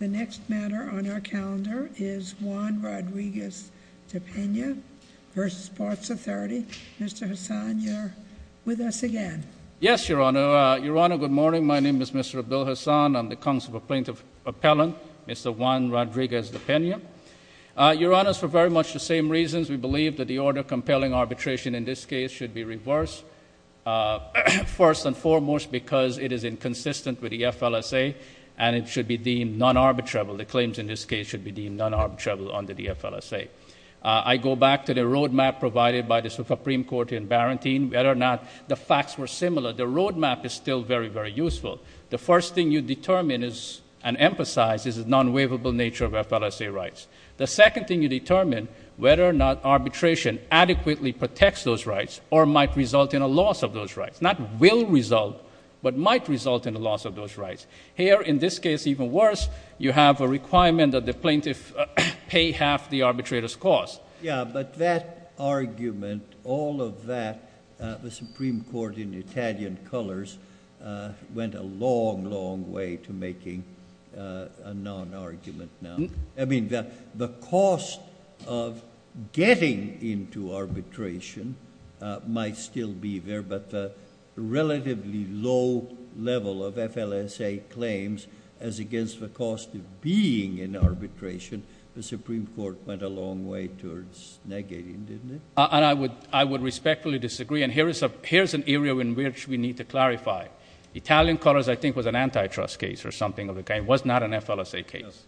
The next matter on our calendar is Juan Rodriguez-Depena v. Parts Authority. Mr. Hassan, you're with us again. Yes, Your Honor. Your Honor, good morning. My name is Mr. Abdul Hassan. I'm the counsel for Plaintiff Appellant, Mr. Juan Rodriguez-Depena. Your Honor, for very much the same reasons, we believe that the order of compelling arbitration in this case should be reversed, first and foremost because it is inconsistent with the FLSA and it should be deemed non-arbitrable. The claims in this case should be deemed non-arbitrable under the FLSA. I go back to the road map provided by the Supreme Court in Barrington. Whether or not the facts were similar, the road map is still very, very useful. The first thing you determine and emphasize is the non-waivable nature of FLSA rights. The second thing you determine, whether or not arbitration adequately protects those rights or might result in a loss of those rights. Not will result, but might result in a loss of those rights. Here, in this case, even worse, you have a requirement that the plaintiff pay half the arbitrator's cost. Yeah, but that argument, all of that, the Supreme Court in Italian colors went a long, long way to making a non-argument now. I mean, the cost of getting into arbitration might still be there, but the relatively low level of FLSA claims as against the cost of being in arbitration, the Supreme Court went a long way towards negating, didn't it? I would respectfully disagree, and here is an area in which we need to clarify. Italian colors, I think, was an antitrust case or something of the kind. It was not an FLSA case.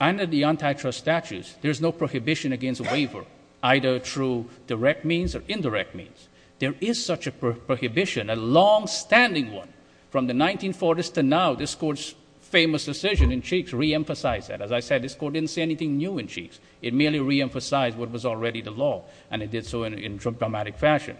Under the antitrust statutes, there's no prohibition against a waiver, either through direct means or indirect means. There is such a prohibition, a longstanding one. From the 1940s to now, this Court's famous decision in Cheeks reemphasized that. As I said, this Court didn't say anything new in Cheeks. It merely reemphasized what was already the law, and it did so in dramatic fashion.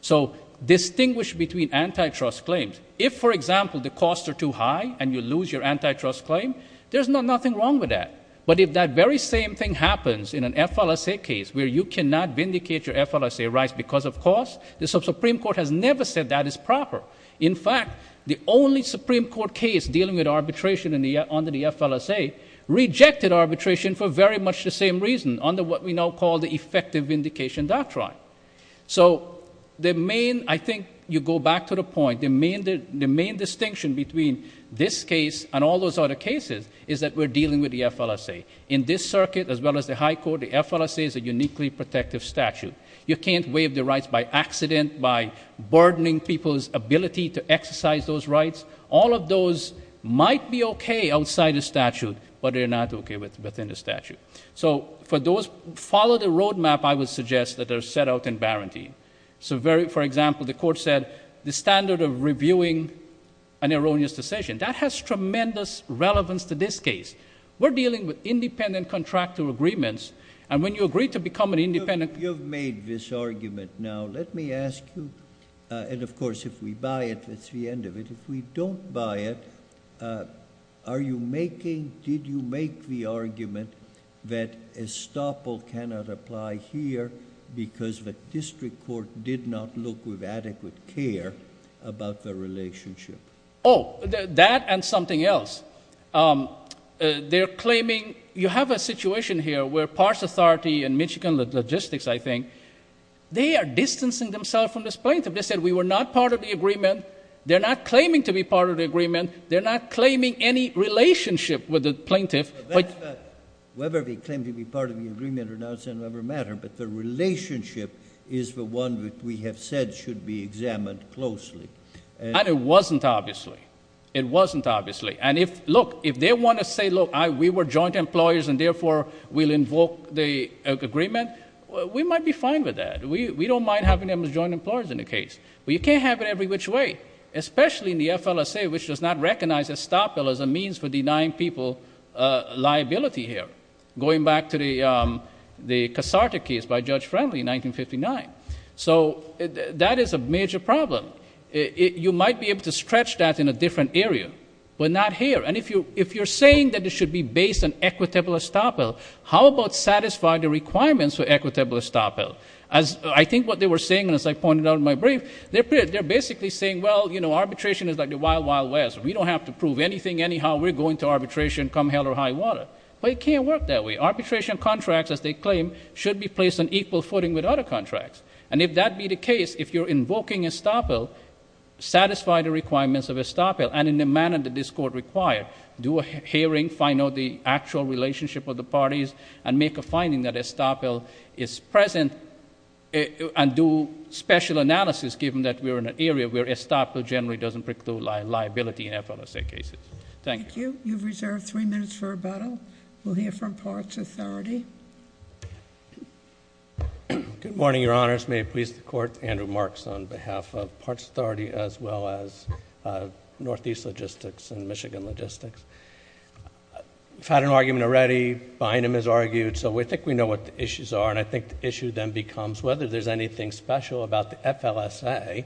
So distinguish between antitrust claims. If, for example, the costs are too high and you lose your antitrust claim, there's nothing wrong with that. But if that very same thing happens in an FLSA case where you cannot vindicate your FLSA rights because of costs, the Supreme Court has never said that is proper. In fact, the only Supreme Court case dealing with arbitration under the FLSA rejected arbitration for very much the same reason under what we now call the effective vindication doctrine. So I think you go back to the point. The main distinction between this case and all those other cases is that we're dealing with the FLSA. In this circuit, as well as the high court, the FLSA is a uniquely protective statute. You can't waive the rights by accident, by burdening people's ability to exercise those rights. All of those might be okay outside the statute, but they're not okay within the statute. So for those who follow the roadmap, I would suggest that they're set out in Barantine. So, for example, the court said the standard of reviewing an erroneous decision. That has tremendous relevance to this case. We're dealing with independent contractual agreements, and when you agree to become an independent You've made this argument. Now let me ask you, and of course if we buy it, that's the end of it. If we don't buy it, are you making, did you make the argument that estoppel cannot apply here because the district court did not look with adequate care about the relationship? Oh, that and something else. They're claiming, you have a situation here where PARS Authority and Michigan Logistics, I think, they are distancing themselves from this plaintiff. They said we were not part of the agreement. They're not claiming to be part of the agreement. They're not claiming any relationship with the plaintiff. Whether they claim to be part of the agreement or not doesn't ever matter, but the relationship is the one that we have said should be examined closely. And it wasn't, obviously. It wasn't, obviously. And if, look, if they want to say, look, we were joint employers and therefore we'll invoke the agreement, we might be fine with that. We don't mind having them as joint employers in the case. But you can't have it every which way, especially in the FLSA, which does not recognize estoppel as a means for denying people liability here, going back to the Casarte case by Judge Friendly in 1959. So that is a major problem. You might be able to stretch that in a different area, but not here. And if you're saying that it should be based on equitable estoppel, how about satisfy the requirements for equitable estoppel? I think what they were saying, and as I pointed out in my brief, they're basically saying, well, you know, arbitration is like the wild, wild west. We don't have to prove anything anyhow. We're going to arbitration, come hell or high water. But it can't work that way. Arbitration contracts, as they claim, should be placed on equal footing with other contracts. And if that be the case, if you're invoking estoppel, satisfy the requirements of estoppel, and in the manner that this Court required. Do a hearing, find out the actual relationship of the parties, and make a finding that estoppel is present and do special analysis, given that we're in an area where estoppel generally doesn't preclude liability in FLSA cases. Thank you. Thank you. You've reserved three minutes for rebuttal. We'll hear from Parts Authority. Good morning, Your Honors. May it please the Court, Andrew Marks on behalf of Parts Authority, as well as Northeast Logistics and Michigan Logistics. We've had an argument already, Bynum has argued, so I think we know what the issues are, and I think the issue then becomes whether there's anything special about the FLSA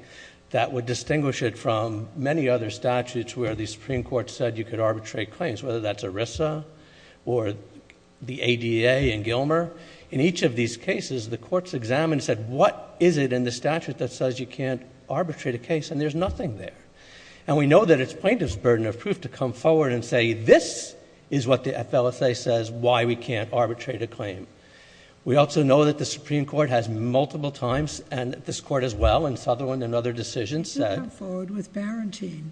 that would distinguish it from many other statutes where the Supreme Court said you could arbitrate claims, whether that's ERISA or the ADA and Gilmer. In each of these cases, the courts examined and said, what is it in the statute that says you can't arbitrate a case, and there's nothing there. And we know that it's plaintiff's burden of proof to come forward and say, this is what the FLSA says, why we can't arbitrate a claim. We also know that the Supreme Court has multiple times, and this Court as well, and Sutherland and other decisions said— They do come forward with Barenteen.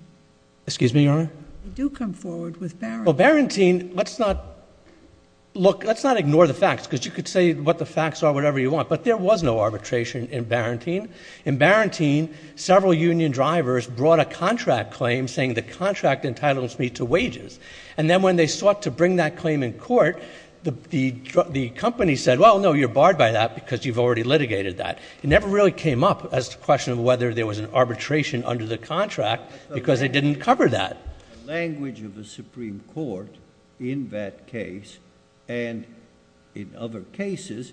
Excuse me, Your Honor? They do come forward with Barenteen. Well, Barenteen, let's not—look, let's not ignore the facts, because you could say what the facts are, whatever you want, but there was no arbitration in Barenteen. In Barenteen, several union drivers brought a contract claim saying the contract entitles me to wages. And then when they sought to bring that claim in court, the company said, well, no, you're barred by that because you've already litigated that. It never really came up as to the question of whether there was an arbitration under the contract because they didn't cover that. The language of the Supreme Court in that case and in other cases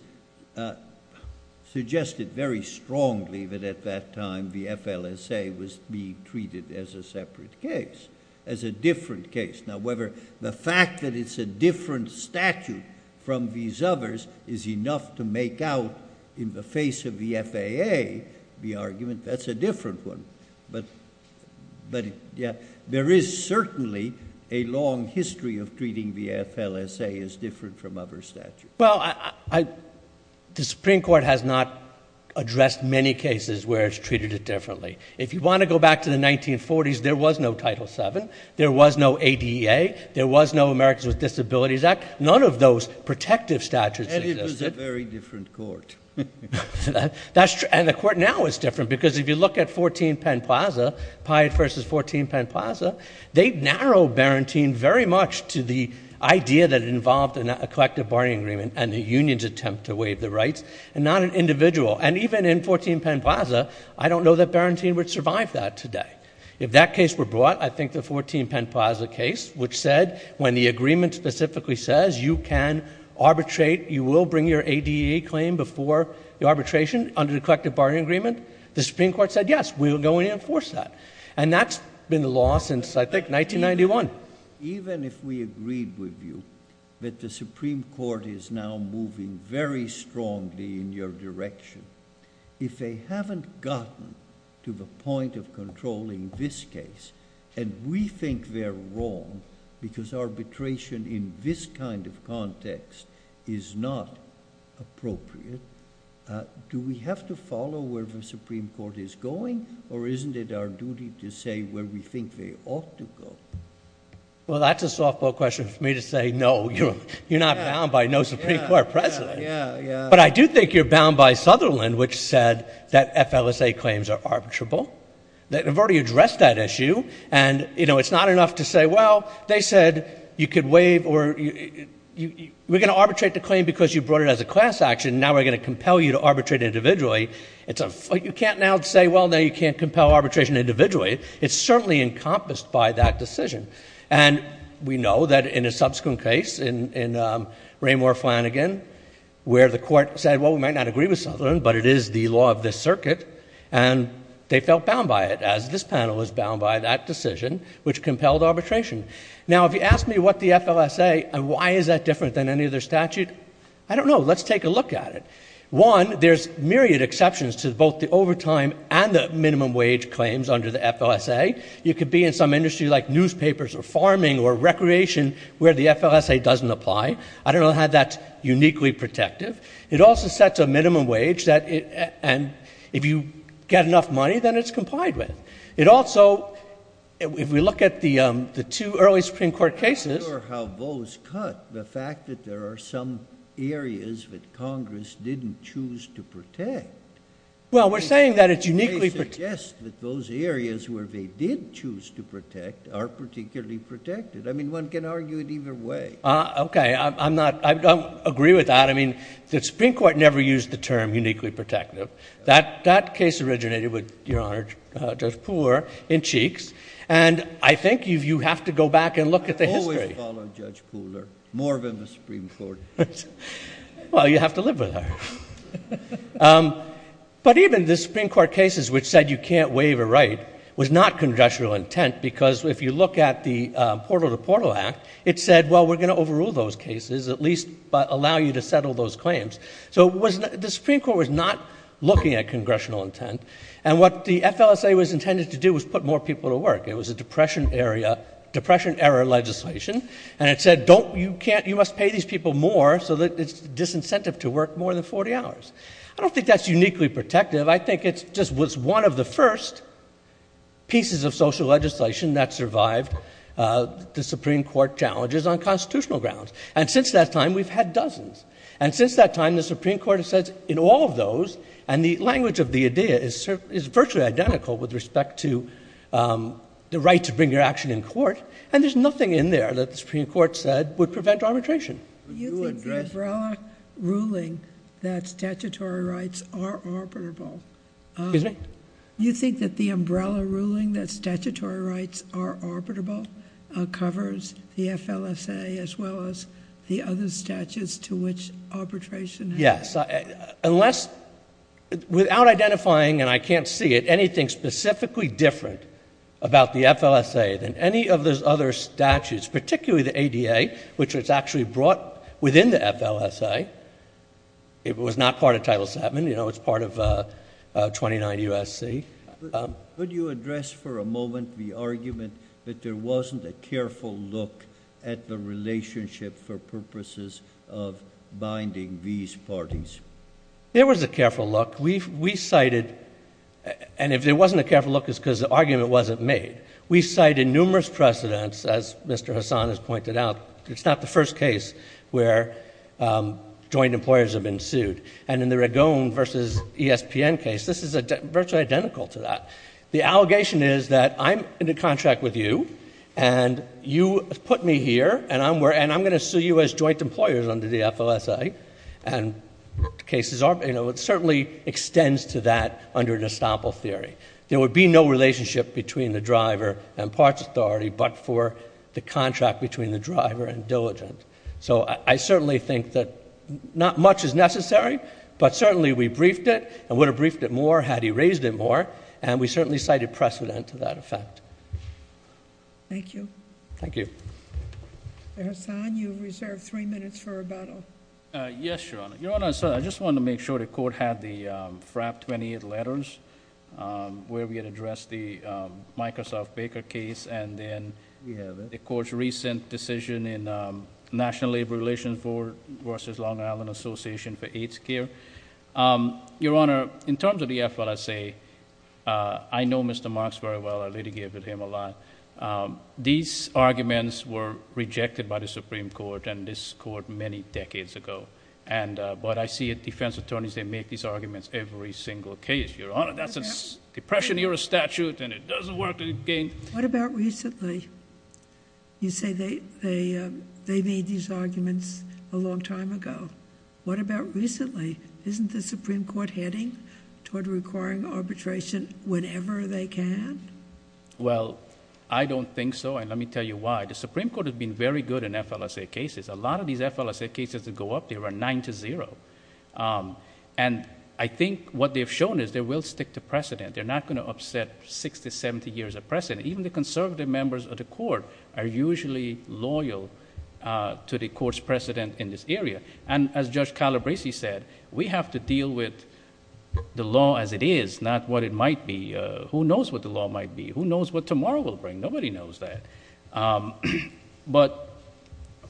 suggested very strongly that at that time the FLSA was being treated as a separate case, as a different case. Now, whether the fact that it's a different statute from these others is enough to make out in the face of the FAA the argument, that's a different one. But, yeah, there is certainly a long history of treating the FLSA as different from other statutes. Well, the Supreme Court has not addressed many cases where it's treated differently. If you want to go back to the 1940s, there was no Title VII, there was no ADA, there was no Americans with Disabilities Act. None of those protective statutes existed. And it was a very different court. And the court now is different because if you look at 14 Penn Plaza, Pyatt v. 14 Penn Plaza, they narrow Barentine very much to the idea that it involved a collective bargaining agreement and a union's attempt to waive the rights and not an individual. And even in 14 Penn Plaza, I don't know that Barentine would survive that today. If that case were brought, I think the 14 Penn Plaza case, which said when the agreement specifically says you can arbitrate, you will bring your ADA claim before the arbitration under the collective bargaining agreement, the Supreme Court said, yes, we will go in and enforce that. And that's been the law since, I think, 1991. Even if we agreed with you that the Supreme Court is now moving very strongly in your direction, if they haven't gotten to the point of controlling this case, and we think they're wrong because arbitration in this kind of context is not appropriate, do we have to follow where the Supreme Court is going? Or isn't it our duty to say where we think they ought to go? Well, that's a softball question for me to say no. You're not bound by no Supreme Court precedent. But I do think you're bound by Sutherland, which said that FLSA claims are arbitrable. They've already addressed that issue. And it's not enough to say, well, they said you could waive or we're going to arbitrate the claim because you brought it as a class action. Now we're going to compel you to arbitrate individually. You can't now say, well, now you can't compel arbitration individually. It's certainly encompassed by that decision. And we know that in a subsequent case in Raymore-Flanagan where the court said, well, we might not agree with Sutherland, but it is the law of this circuit. And they felt bound by it, as this panel was bound by that decision, which compelled arbitration. Now, if you ask me what the FLSA and why is that different than any other statute, I don't know. Let's take a look at it. One, there's myriad exceptions to both the overtime and the minimum wage claims under the FLSA. You could be in some industry like newspapers or farming or recreation where the FLSA doesn't apply. I don't know how that's uniquely protective. It also sets a minimum wage that if you get enough money, then it's complied with. It also, if we look at the two early Supreme Court cases. I'm not sure how those cut the fact that there are some areas that Congress didn't choose to protect. Well, we're saying that it's uniquely protected. They suggest that those areas where they did choose to protect are particularly protected. I mean, one can argue it either way. Okay. I'm not, I don't agree with that. I mean, the Supreme Court never used the term uniquely protective. That case originated with, Your Honor, Judge Pooler in Cheeks. And I think you have to go back and look at the history. I've always followed Judge Pooler, more than the Supreme Court. Well, you have to live with her. But even the Supreme Court cases which said you can't waive a right was not congressional intent because if you look at the Portal to Portal Act, it said, well, we're going to overrule those cases, at least allow you to settle those claims. So the Supreme Court was not looking at congressional intent. And what the FLSA was intended to do was put more people to work. It was a depression-error legislation. And it said, you must pay these people more so that it's disincentive to work more than 40 hours. I don't think that's uniquely protective. I think it just was one of the first pieces of social legislation that survived the Supreme Court challenges on constitutional grounds. And since that time, we've had dozens. And since that time, the Supreme Court has said in all of those, and the language of the idea is virtually identical with respect to the right to bring your action in court, and there's nothing in there that the Supreme Court said would prevent arbitration. Do you think the umbrella ruling that statutory rights are arbitrable? Excuse me? Do you think that the umbrella ruling that statutory rights are arbitrable covers the FLSA as well as the other statutes to which arbitration has been applied? Yes. Unless, without identifying, and I can't see it, anything specifically different about the FLSA than any of those other statutes, particularly the ADA, which was actually brought within the FLSA. It was not part of Title VII. You know, it's part of 29 U.S.C. Could you address for a moment the argument that there wasn't a careful look at the relationship for purposes of binding these parties? There was a careful look. We cited, and if there wasn't a careful look, it's because the argument wasn't made. We cited numerous precedents, as Mr. Hasan has pointed out. It's not the first case where joint employers have been sued. And in the Ragone v. ESPN case, this is virtually identical to that. The allegation is that I'm in a contract with you, and you put me here, and I'm going to sue you as joint employers under the FLSA. And cases are, you know, it certainly extends to that under an estoppel theory. There would be no relationship between the driver and parts authority but for the contract between the driver and diligence. So I certainly think that not much is necessary, but certainly we briefed it and would have briefed it more had he raised it more, and we certainly cited precedent to that effect. Thank you. Thank you. Mr. Hasan, you have reserved three minutes for rebuttal. Yes, Your Honor. Your Honor, I just wanted to make sure the court had the FRAP 28 letters where we had addressed the Microsoft Baker case and then the court's recent decision in National Labor Relations versus Long Island Association for AIDS Care. Your Honor, in terms of the FLSA, I know Mr. Marks very well. I litigated with him a lot. These arguments were rejected by the Supreme Court and this court many decades ago. But I see defense attorneys, they make these arguments every single case. Your Honor, that's a Depression Era statute and it doesn't work... What about recently? You say they made these arguments a long time ago. What about recently? Isn't the Supreme Court heading toward requiring arbitration whenever they can? Well, I don't think so and let me tell you why. The Supreme Court has been very good in FLSA cases. A lot of these FLSA cases that go up, they run nine to zero. I think what they've shown is they will stick to precedent. They're not going to upset 60, 70 years of precedent. Even the conservative members of the court are usually loyal to the court's precedent in this area. As Judge Calabresi said, we have to deal with the law as it is, not what it might be. Who knows what the law might be? Who knows what tomorrow will bring? Nobody knows that. But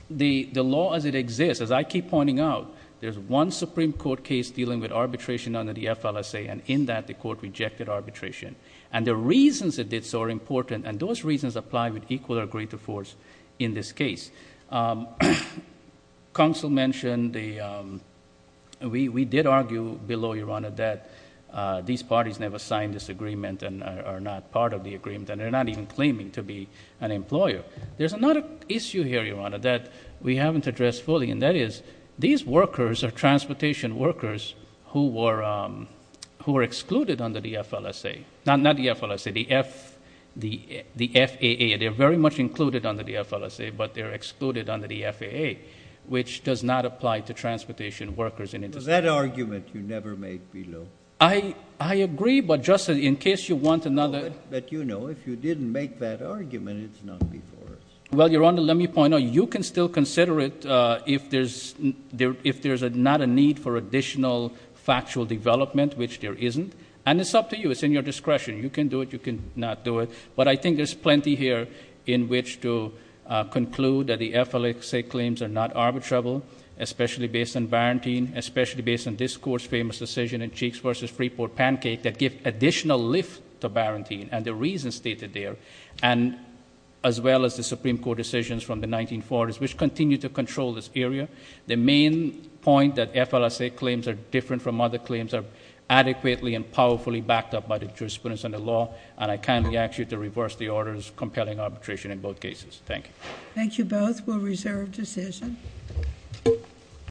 the law as it exists, as I keep pointing out, there's one Supreme Court case dealing with arbitration under the FLSA and in that the court rejected arbitration. The reasons it did so are important and those reasons apply with equal or greater force in this case. Counsel mentioned, we did argue below, Your Honor, that these parties never signed this agreement and are not part of the agreement and they're not even claiming to be an employer. There's another issue here, Your Honor, that we haven't addressed fully, and that is these workers are transportation workers who were excluded under the FLSA. Not the FLSA, the FAA. They're very much included under the FLSA, but they're excluded under the FAA, which does not apply to transportation workers. That argument you never made below. I agree, but just in case you want another. But, you know, if you didn't make that argument, it's not before us. Well, Your Honor, let me point out, you can still consider it if there's not a need for additional factual development, which there isn't, and it's up to you. It's in your discretion. You can do it. You can not do it. But I think there's plenty here in which to conclude that the FLSA claims are not arbitrable, especially based on Barantine, especially based on this Court's famous decision in Cheeks v. Freeport Pancake that give additional lift to Barantine and the reasons stated there, as well as the Supreme Court decisions from the 1940s, which continue to control this area. The main point that FLSA claims are different from other claims are adequately and powerfully backed up by the jurisprudence and the law, and I kindly ask you to reverse the orders compelling arbitration in both cases. Thank you. Thank you both. That will reserve decision.